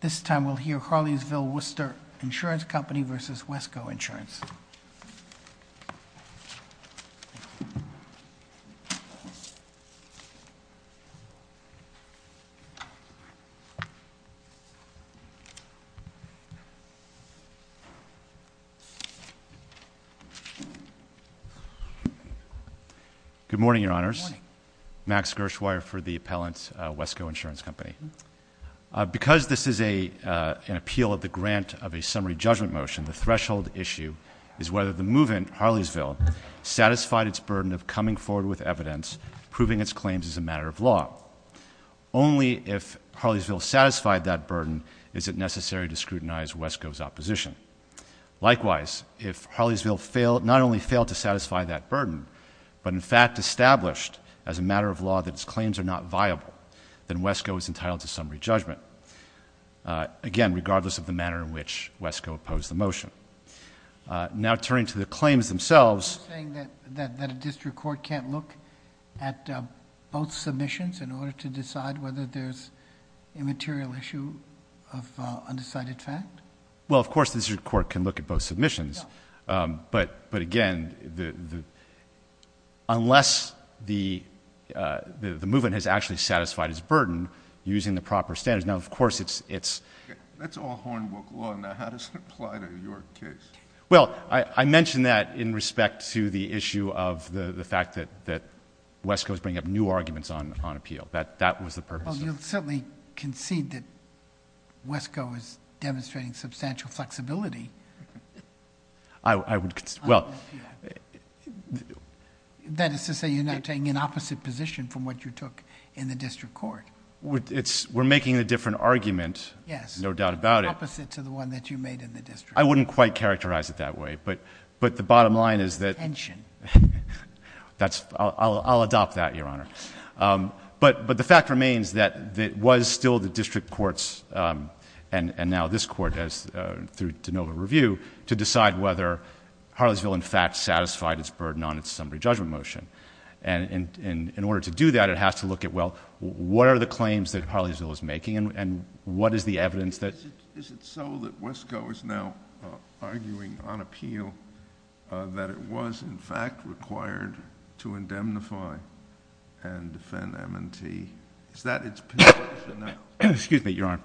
This time we'll hear Harleysville Worcester Insurance Company versus Wesco Insurance Good morning, your honors Max Gershweyer for the appellants Wesco Insurance Company Because this is a Appeal of the grant of a summary judgment motion. The threshold issue is whether the movement Harleysville Satisfied its burden of coming forward with evidence proving its claims as a matter of law Only if Harleysville satisfied that burden, is it necessary to scrutinize Wesco's opposition? Likewise if Harleysville failed not only failed to satisfy that burden But in fact established as a matter of law that its claims are not viable then Wesco is entitled to summary judgment Again, regardless of the manner in which Wesco opposed the motion Now turning to the claims themselves District Court can't look at both submissions in order to decide whether there's a material issue Well, of course the district court can look at both submissions but but again the Unless the The movement has actually satisfied his burden using the proper standards. Now, of course, it's it's Well, I mentioned that in respect to the issue of the the fact that that Wesco's bring up new arguments on on appeal that that was the purpose of certainly concede that Wesco is demonstrating substantial flexibility. I would well That is to say you're not taking an opposite position from what you took in the district court What it's we're making a different argument. Yes, no doubt about it I wouldn't quite characterize it that way. But but the bottom line is that That's I'll adopt that your honor but but the fact remains that that was still the district courts and and now this court has Through to know a review to decide whether Harleysville in fact satisfied its burden on it's somebody judgment motion and in in order to do that It has to look at well What are the claims that Harleysville is making and what is the evidence that is it so that Wesco is now? arguing on appeal That it was in fact required to indemnify and defend M&T. Is that it's Excuse me, Your Honor.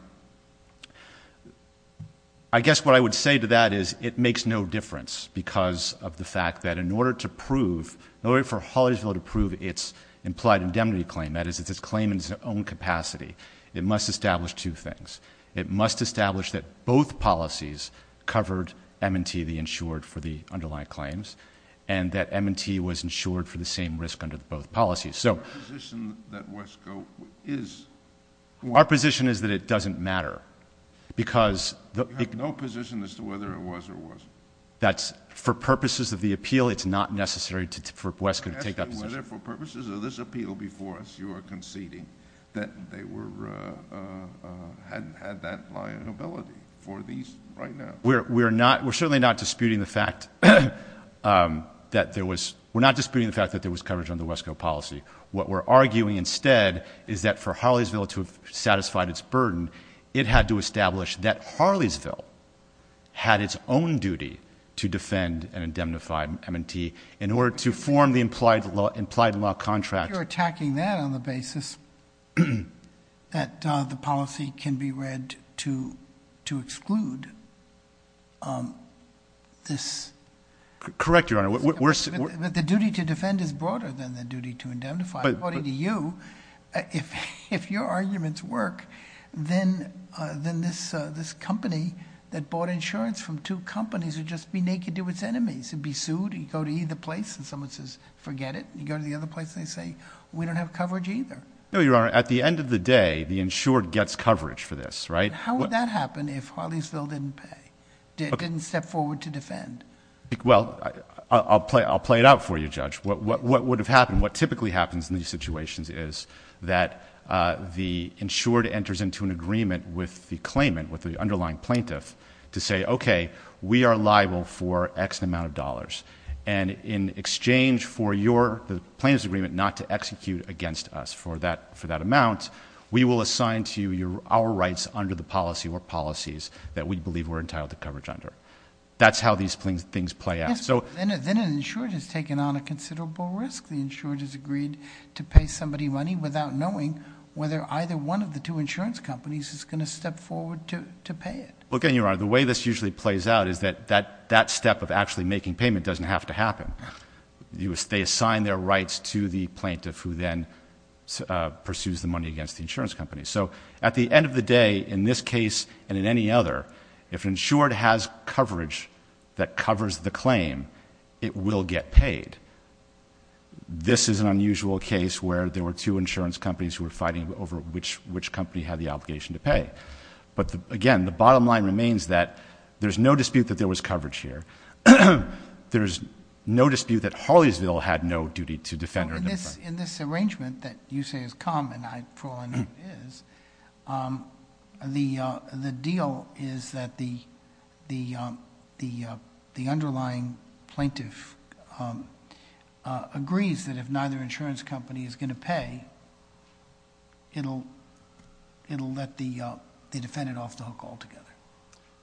I Guess what I would say to that is it makes no difference Because of the fact that in order to prove no way for Holliesville to prove its implied indemnity claim That is it's its claim in its own capacity. It must establish two things it must establish that both policies covered M&T the insured for the underlying claims and That M&T was insured for the same risk under both policies. So Our position is that it doesn't matter Because That's for purposes of the appeal it's not necessary to for Wesco to take that We're not we're certainly not disputing the fact That there was we're not disputing the fact that there was coverage on the Wesco policy What we're arguing instead is that for Holliesville to have satisfied its burden it had to establish that Harleysville Had its own duty to defend and indemnify M&T in order to form the implied law implied in law contract You're attacking that on the basis That the policy can be read to to exclude This Correct your honor worse, but the duty to defend is broader than the duty to indemnify body to you If if your arguments work Then then this this company that bought insurance from two companies would just be naked to its enemies It'd be sued and go to either place and someone says forget it. You go to the other place They say we don't have coverage either. No, you are at the end of the day the insured gets coverage for this, right? How would that happen? If Holly still didn't pay didn't step forward to defend? well, I'll play I'll play it out for you judge what what would have happened what typically happens in these situations is that The insured enters into an agreement with the claimant with the underlying plaintiff to say, okay we are liable for X amount of dollars and In exchange for your the plaintiff's agreement not to execute against us for that for that amount We will assign to you your our rights under the policy or policies that we believe were entitled to coverage under That's how these things things play out So then an insured has taken on a considerable risk the insured has agreed to pay somebody money without knowing Whether either one of the two insurance companies is going to step forward to to pay it Okay, you are the way this usually plays out. Is that that that step of actually making payment doesn't have to happen You stay assigned their rights to the plaintiff who then? pursues the money against the insurance company So at the end of the day in this case and in any other if insured has coverage that covers the claim It will get paid This is an unusual case where there were two insurance companies who were fighting over which which company had the obligation to pay But again, the bottom line remains that there's no dispute that there was coverage here There's no dispute that Harleysville had no duty to defend her in this in this arrangement that you say is common Is The the deal is that the the the the underlying plaintiff Agrees that if neither insurance company is going to pay It'll It'll let the the defendant off the hook all together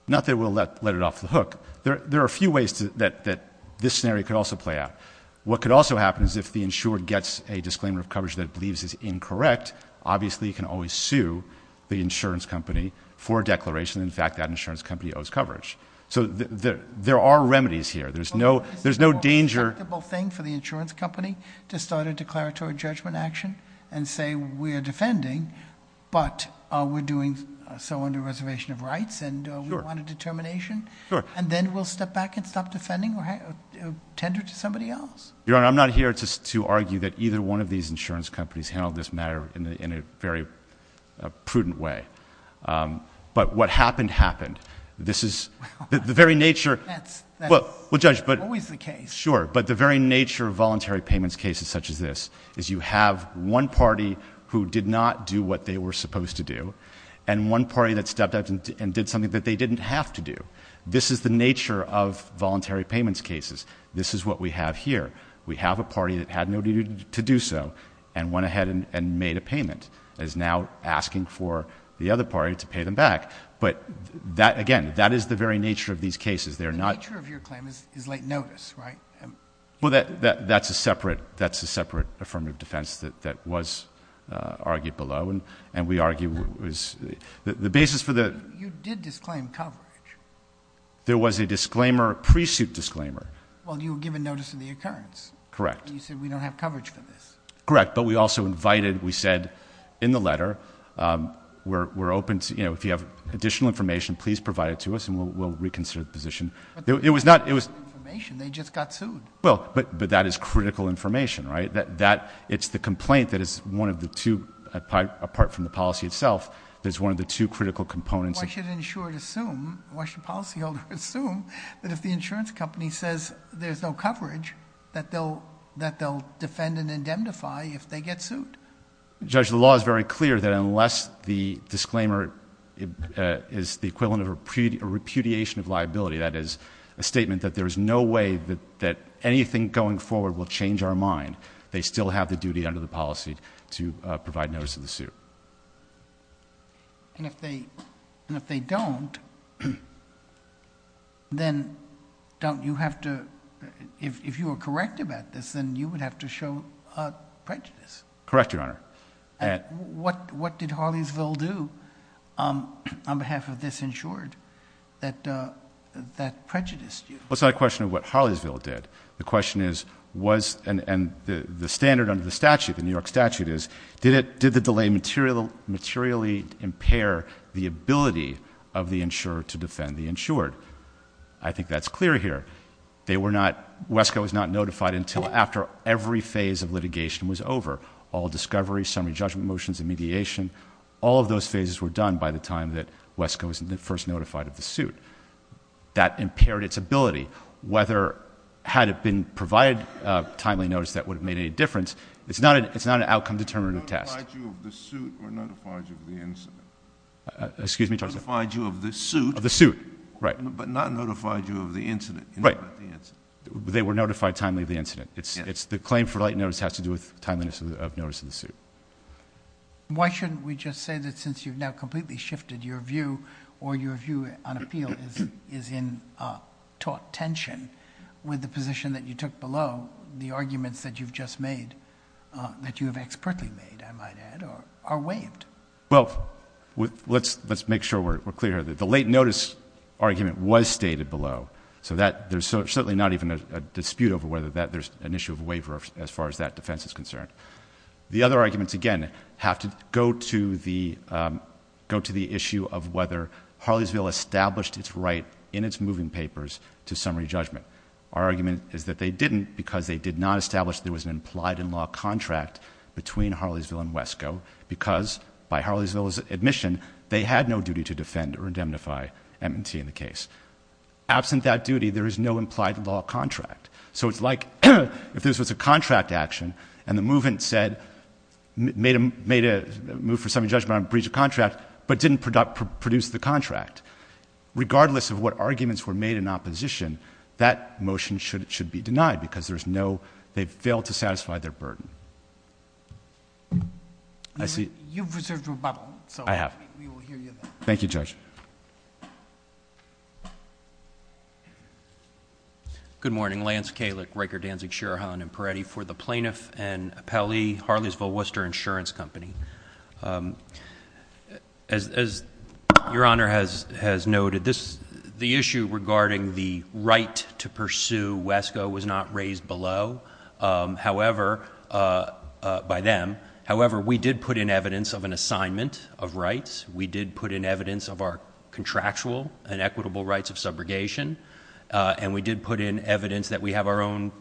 Not that we'll let let it off the hook There there are a few ways to that that this scenario could also play out What could also happen is if the insured gets a disclaimer of coverage that believes is incorrect Obviously you can always sue the insurance company for a declaration In fact that insurance company owes coverage. So there there are remedies here. There's no there's no danger The whole thing for the insurance company to start a declaratory judgment action and say we are defending But we're doing so under reservation of rights and we want a determination and then we'll step back and stop defending or Your honor, I'm not here to argue that either one of these insurance companies handled this matter in a very prudent way But what happened happened? This is the very nature Well, we'll judge but always the case sure but the very nature of voluntary payments cases such as this is you have one party who did not do what they were supposed to Do and one party that stepped out and did something that they didn't have to do This is the nature of voluntary payments cases. This is what we have here we have a party that had no duty to do so and went ahead and made a payment as now asking for The other party to pay them back, but that again that is the very nature of these cases They're not sure of your claim is late notice, right? Well that that's a separate that's a separate affirmative defense that that was Argued below and and we argue was the basis for the you did disclaim coverage There was a disclaimer pre-suit disclaimer Correct Correct, but we also invited we said in the letter We're open to you know, if you have additional information, please provide it to us and we'll reconsider the position. It was not it was Well, but but that is critical information right that that it's the complaint that is one of the two Apart from the policy itself. There's one of the two critical components I should ensure to assume why should policyholder assume that if the insurance company says there's no coverage that they'll that they'll Defend and indemnify if they get sued Judge the law is very clear that unless the disclaimer Is the equivalent of a repudiation of liability? That is a statement that there is no way that that anything going forward will change our mind They still have the duty under the policy to provide notice of the suit And if they and if they don't Then don't you have to if you are correct about this then you would have to show a prejudice correct your honor What what did Harleysville do? on behalf of this insured that That prejudice What's not a question of what Harleysville did the question is was and and the standard under the statute in New York statute is Did it did the delay material materially impair the ability of the insurer to defend the insured? I think that's clear here They were not Wesco is not notified until after every phase of litigation was over all Discovery summary judgment motions and mediation all of those phases were done by the time that Wesco isn't the first notified of the suit That impaired its ability whether had it been provided timely notice that would have made any difference It's not it's not an outcome determinative test Excuse me to find you of this suit of the suit right but not notified you of the incident, right? They were notified timely of the incident. It's it's the claim for late notice has to do with timeliness of notice of the suit Why shouldn't we just say that since you've now completely shifted your view or your view on appeal is is in Taught tension with the position that you took below the arguments that you've just made That you have expertly made I might add or are waived Well with let's let's make sure we're clear that the late notice Argument was stated below so that there's certainly not even a dispute over whether that there's an issue of waiver as far as that defense is concerned the other arguments again have to go to the Go to the issue of whether Harleysville established its right in its moving papers to summary judgment Our argument is that they didn't because they did not establish there was an implied in law contract Between Harleysville and Wesco because by Harleysville's admission they had no duty to defend or indemnify M&T in the case Absent that duty. There is no implied in law contract so it's like if this was a contract action and the movement said Made a made a move for some judgment breach of contract, but didn't product produce the contract Regardless of what arguments were made in opposition that motion should it should be denied because there's no they've failed to satisfy their burden Thank You judge Good Morning Lance Kalik Riker Danzig Sherahan and Peretti for the plaintiff and a Peli Harleysville Worcester insurance company As Your honor has has noted this the issue regarding the right to pursue Wesco was not raised below however By them. However, we did put in evidence of an assignment of rights. We did put in evidence of our contractual and equitable rights of subrogation And we did put in evidence that we have our own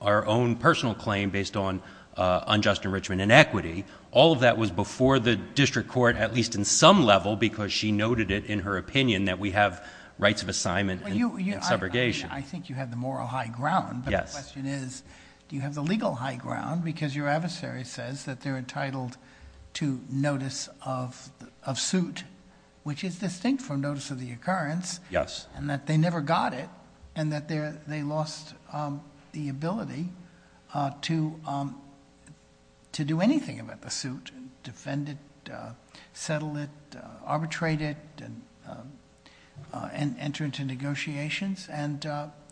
our own personal claim based on unjust enrichment and equity all of that was before the District Court at least in some level because she noted it in her opinion that we have rights of assignment and subrogation I think you have the moral high ground Yes, it is. Do you have the legal high ground because your adversary says that they're entitled to notice of? Suit which is distinct from notice of the occurrence. Yes, and that they never got it and that they're they lost the ability to To do anything about the suit defend it settle it arbitrate it and And enter into negotiations and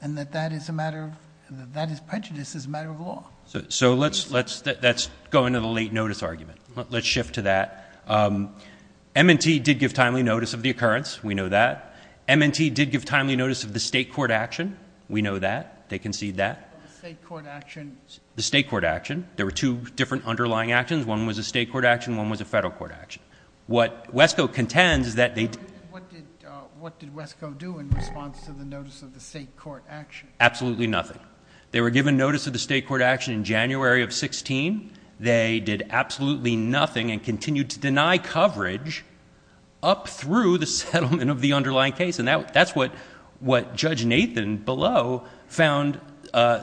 and that that is a matter of that is prejudice as a matter of law So so let's let's that's going to the late notice argument. Let's shift to that M&T did give timely notice of the occurrence. We know that M&T did give timely notice of the state court action We know that they concede that The state court action there were two different underlying actions one was a state court action one was a federal court action What Wesco contends is that they? Absolutely nothing they were given notice of the state court action in January of 16 They did absolutely nothing and continued to deny coverage Up through the settlement of the underlying case and that that's what what judge Nathan below found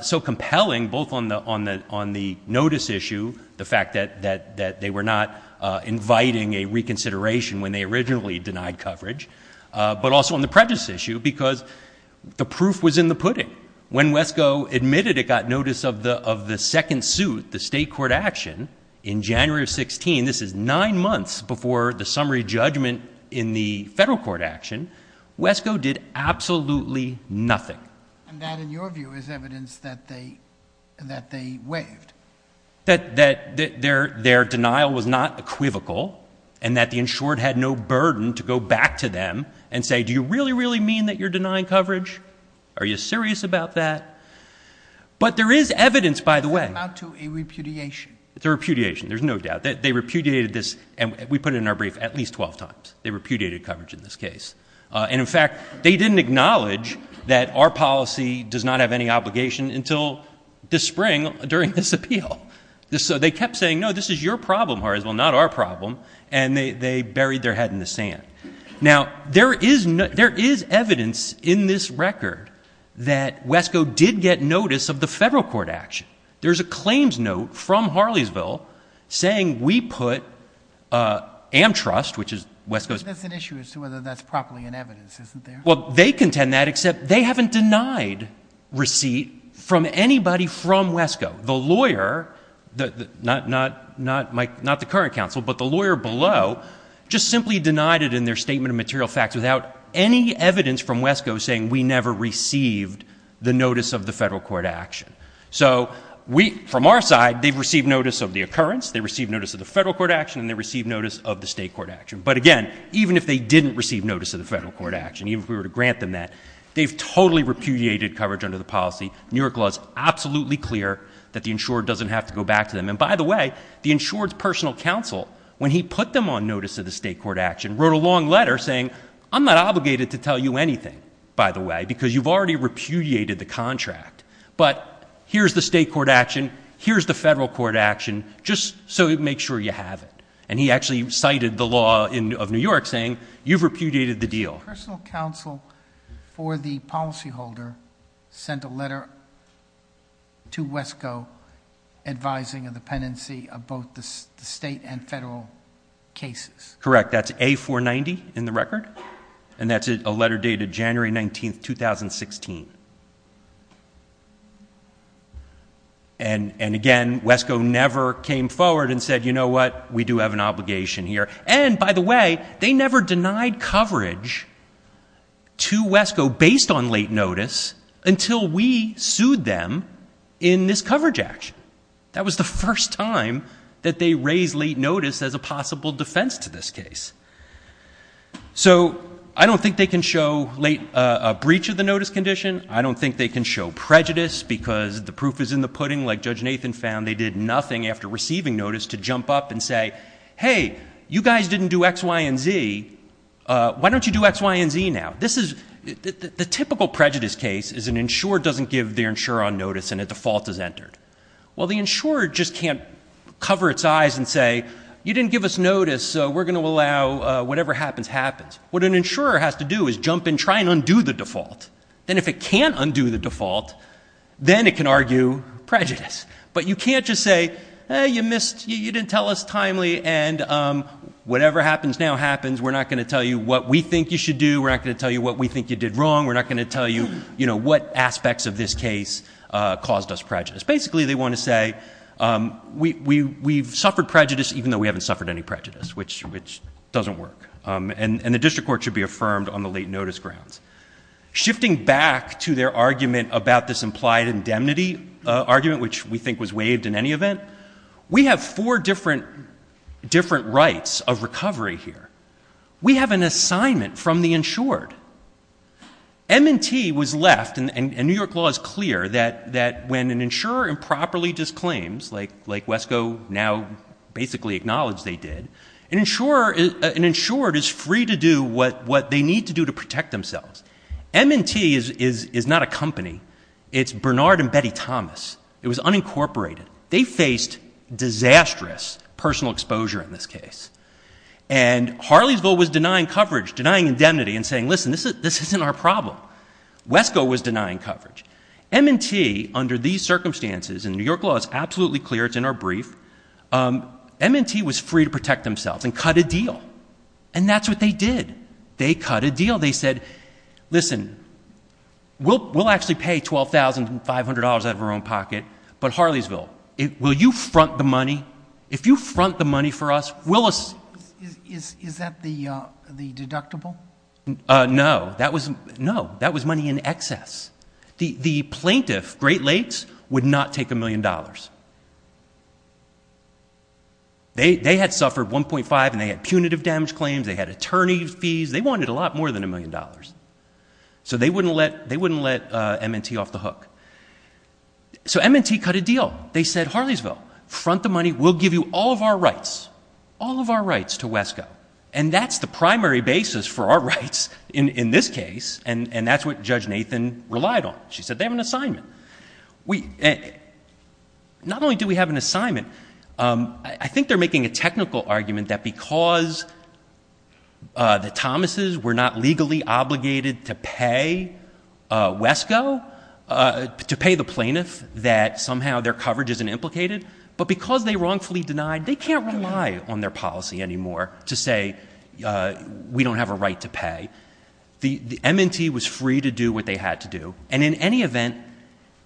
So compelling both on the on the on the notice issue the fact that that that they were not inviting a reconsideration when they originally denied coverage, but also on the prejudice issue because The proof was in the pudding when Wesco admitted it got notice of the of the second suit the state court action in January of 16. This is nine months before the summary judgment in the federal court action Wesco did absolutely nothing That that their their denial was not Equivocal and that the insured had no burden to go back to them and say do you really really mean that you're denying? Coverage are you serious about that? But there is evidence by the way out to a repudiation. It's a repudiation There's no doubt that they repudiated this and we put it in our brief at least 12 times They repudiated coverage in this case and in fact They didn't acknowledge that our policy does not have any obligation until this spring during this appeal This so they kept saying no This is your problem or as well not our problem And they they buried their head in the sand Now there is no there is evidence in this record that Wesco did get notice of the federal court action. There's a claims note from Harleysville Saying we put a am trust, which is West Coast Well, they contend that except they haven't denied Receipt from anybody from Wesco the lawyer The not not not Mike not the current counsel But the lawyer below just simply denied it in their statement of material facts without any evidence from Wesco saying we never received The notice of the federal court action. So we from our side. They've received notice of the occurrence They received notice of the federal court action and they received notice of the state court action But again, even if they didn't receive notice of the federal court action, even if we were to grant them that they've totally repudiated coverage under the policy New York law is absolutely clear that the insured doesn't have to go back to them And by the way The insured's personal counsel when he put them on notice of the state court action wrote a long letter saying I'm not obligated to tell You anything by the way, because you've already repudiated the contract, but here's the state court action Here's the federal court action just so it makes sure you have it and he actually cited the law in of New York saying you've repudiated the deal personal counsel For the policyholder sent a letter to Wesco Advising of the penancy of both the state and federal Cases, correct. That's a 490 in the record and that's a letter dated January 19th 2016 And And again Wesco never came forward and said, you know what we do have an obligation here And by the way, they never denied coverage To Wesco based on late notice until we sued them in this coverage action That was the first time that they raised late notice as a possible defense to this case So I don't think they can show late a breach of the notice condition I don't think they can show prejudice because the proof is in the pudding like judge Nathan found They did nothing after receiving notice to jump up and say hey you guys didn't do XY and Z Why don't you do X Y & Z now This is the typical prejudice case is an insurer doesn't give their insurer on notice and a default is entered Well, the insurer just can't cover its eyes and say you didn't give us notice. So we're gonna allow whatever happens happens What an insurer has to do is jump and try and undo the default then if it can't undo the default then it can argue prejudice, but you can't just say you missed you didn't tell us timely and Whatever happens now happens. We're not going to tell you what we think you should do We're not going to tell you what we think you did wrong We're not going to tell you, you know, what aspects of this case caused us prejudice. Basically, they want to say We we've suffered prejudice even though we haven't suffered any prejudice Which which doesn't work and and the district court should be affirmed on the late notice grounds Shifting back to their argument about this implied indemnity Argument, which we think was waived in any event. We have four different Different rights of recovery here. We have an assignment from the insured M&T was left and New York law is clear that that when an insurer improperly disclaims like like Wesco now Basically acknowledged they did an insurer is an insured is free to do what what they need to do to protect themselves M&T is is is not a company. It's Bernard and Betty Thomas. It was unincorporated they faced Disastrous personal exposure in this case and Harleysville was denying coverage denying indemnity and saying listen, this is this isn't our problem Wesco was denying coverage M&T under these circumstances in New York law is absolutely clear. It's in our brief M&T was free to protect themselves and cut a deal and that's what they did. They cut a deal. They said listen We'll we'll actually pay twelve thousand and five hundred dollars out of our own pocket But Harleysville it will you front the money if you front the money for us? Willis? No, that was no that was money in excess the the plaintiff Great Lakes would not take a million dollars They they had suffered 1.5 and they had punitive damage claims they had attorney fees they wanted a lot more than a million dollars So they wouldn't let they wouldn't let M&T off the hook So M&T cut a deal. They said Harleysville front the money We'll give you all of our rights all of our rights to Wesco And that's the primary basis for our rights in in this case. And and that's what judge Nathan relied on She said they have an assignment we Not only do we have an assignment. I think they're making a technical argument that because The Thomas's were not legally obligated to pay Wesco To pay the plaintiff that somehow their coverage isn't implicated but because they wrongfully denied they can't rely on their policy anymore to say We don't have a right to pay the the M&T was free to do what they had to do and in any event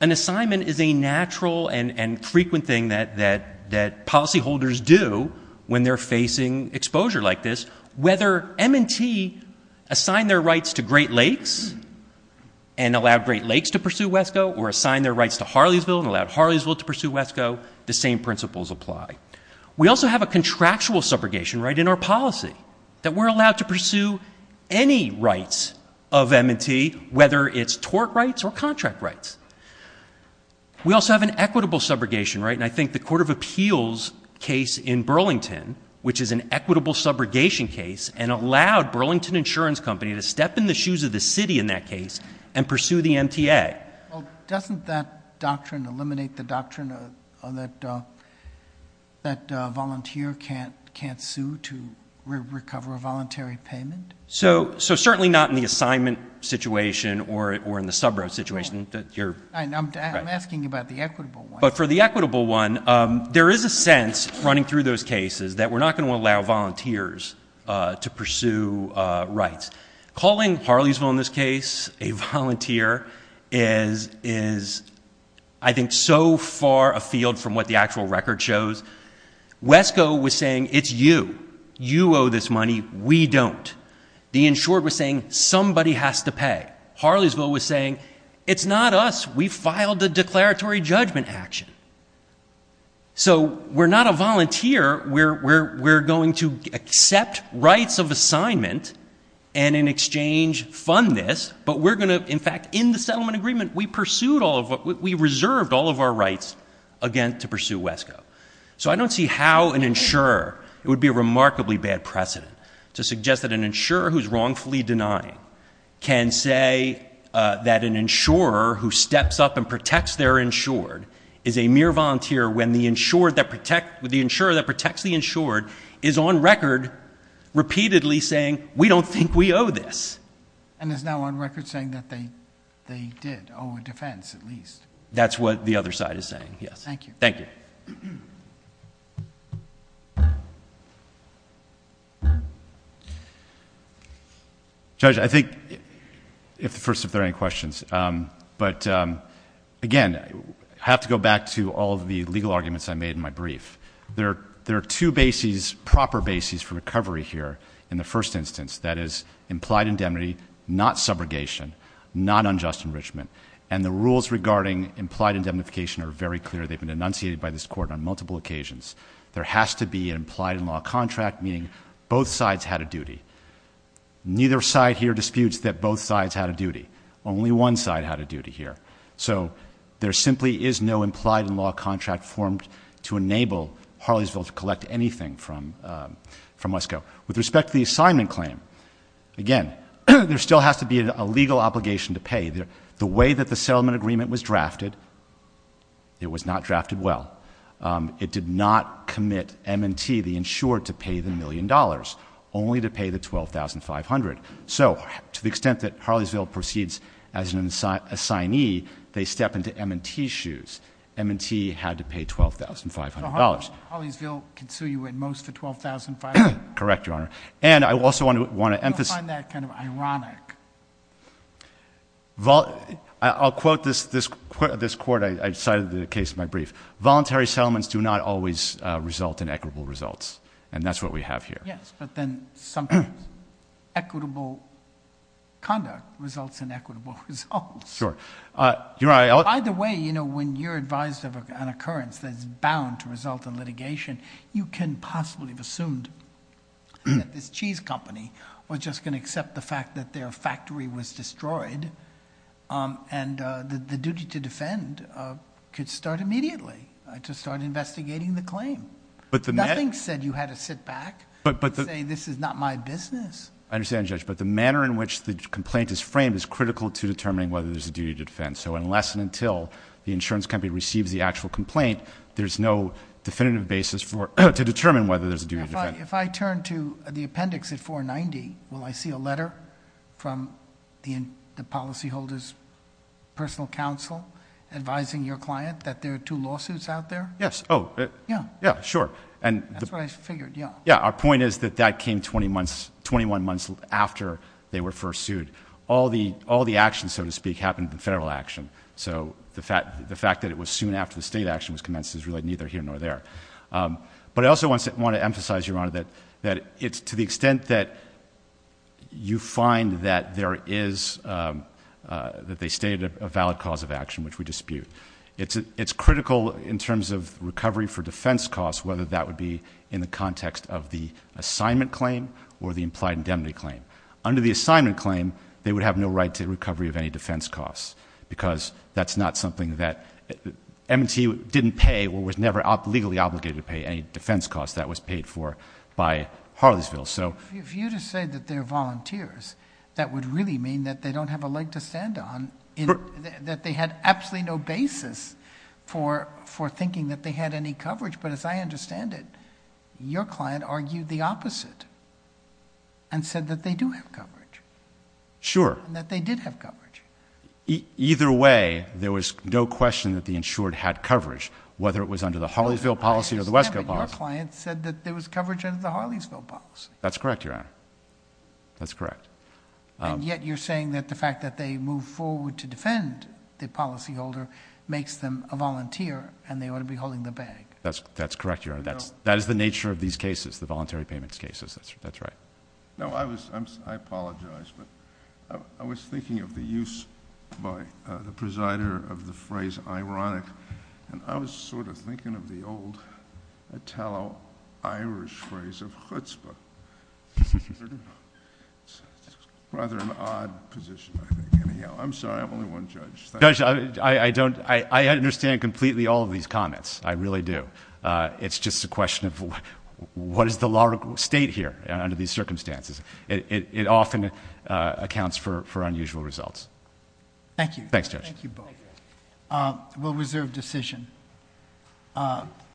an Assignment is a natural and and frequent thing that that that policyholders do when they're facing exposure like this whether M&T assign their rights to Great Lakes and Allowed Great Lakes to pursue Wesco or assign their rights to Harleysville and allowed Harleysville to pursue Wesco the same principles apply We also have a contractual subrogation right in our policy that we're allowed to pursue any Rights of M&T whether it's tort rights or contract rights We also have an equitable subrogation, right? Equitable subrogation case and allowed Burlington Insurance Company to step in the shoes of the city in that case and pursue the MTA Doesn't that doctrine eliminate the doctrine of that? That volunteer can't can't sue to Recover a voluntary payment. So so certainly not in the assignment situation or in the subroad situation that you're But for the equitable one There is a sense running through those cases that we're not going to allow volunteers to pursue rights calling Harleysville in this case a volunteer is is I Think so far afield from what the actual record shows Wesco was saying it's you you owe this money. We don't the insured was saying somebody has to pay Harleysville was saying it's not us. We filed the declaratory judgment action So we're not a volunteer We're we're we're going to accept rights of assignment and in exchange Fund this but we're gonna in fact in the settlement agreement We pursued all of what we reserved all of our rights again to pursue Wesco So I don't see how an insurer it would be a remarkably bad precedent to suggest that an insurer who's wrongfully denying can say That an insurer who steps up and protects their insured is a mere volunteer when the insured that protect with the insurer that protects The insured is on record Repeatedly saying we don't think we owe this and it's now on record saying that they they did Oh a defense at least that's what the other side is saying. Yes. Thank you. Thank you I Think if the first if there any questions, but Again, I have to go back to all of the legal arguments I made in my brief there there are two bases proper bases for recovery here in the first instance That is implied indemnity not subrogation Not unjust enrichment and the rules regarding implied indemnification are very clear They've been enunciated by this court on multiple occasions. There has to be implied in law contract meaning both sides had a duty Neither side here disputes that both sides had a duty only one side had a duty here So there simply is no implied in law contract formed to enable Harleysville to collect anything from From Wesco with respect to the assignment claim Again, there still has to be a legal obligation to pay there the way that the settlement agreement was drafted It was not drafted well It did not commit M&T the insured to pay the million dollars only to pay the twelve thousand five hundred So to the extent that Harleysville proceeds as an inside assignee They step into M&T shoes M&T had to pay twelve thousand five hundred dollars Correct your honor and I also want to want to emphasize that kind of ironic Well, I'll quote this this quote of this court I cited the case my brief voluntary settlements do not always result in equitable results and that's what we have here Yes, but then sometimes equitable Conduct results in equitable results. Sure You're I the way, you know when you're advised of an occurrence that's bound to result in litigation. You can possibly have assumed This cheese company was just gonna accept the fact that their factory was destroyed And the duty to defend Could start immediately I just started investigating the claim But the man said you had to sit back but but this is not my business I understand judge but the manner in which the complaint is framed is critical to determining whether there's a duty to defend So unless and until the insurance company receives the actual complaint There's no definitive basis for to determine whether there's a duty if I turn to the appendix at 490 Will I see a letter from the in the policyholders? Personal counsel advising your client that there are two lawsuits out there. Yes. Oh, yeah. Yeah sure and Yeah, our point is that that came 20 months 21 months after they were first sued all the all the action So to speak happened in federal action So the fact the fact that it was soon after the state action was commenced is really neither here nor there but I also want to want to emphasize your honor that that it's to the extent that You find that there is That they stated a valid cause of action which we dispute it's it's critical in terms of recovery for defense costs whether that would be in the context of the Indemnity claim under the assignment claim they would have no right to recovery of any defense costs because that's not something that M&T didn't pay or was never up legally obligated to pay any defense costs that was paid for by Harleysville so if you to say that they're volunteers that would really mean that they don't have a leg to stand on That they had absolutely no basis for for thinking that they had any coverage, but as I understand it Your client argued the opposite And said that they do have coverage Sure that they did have coverage Either way there was no question that the insured had coverage whether it was under the Harleysville policy or the West Go positive client said that there was coverage into the Harleysville policy. That's correct your honor That's correct Yet, you're saying that the fact that they move forward to defend the policyholder makes them a volunteer and they ought to be holding The bag that's that's correct your honor. That's that is the nature of these cases the voluntary payments cases. That's right No, I was I apologize But I was thinking of the use by the presider of the phrase ironic and I was sort of thinking of the old Italo Irish phrase of chutzpah Rather an odd position I'm sorry. I'm only one judge. I don't I understand completely all of these comments. I really do. It's just a question of What is the law state here under these circumstances it often accounts for unusual results Thank you. Thanks judge Will reserve decision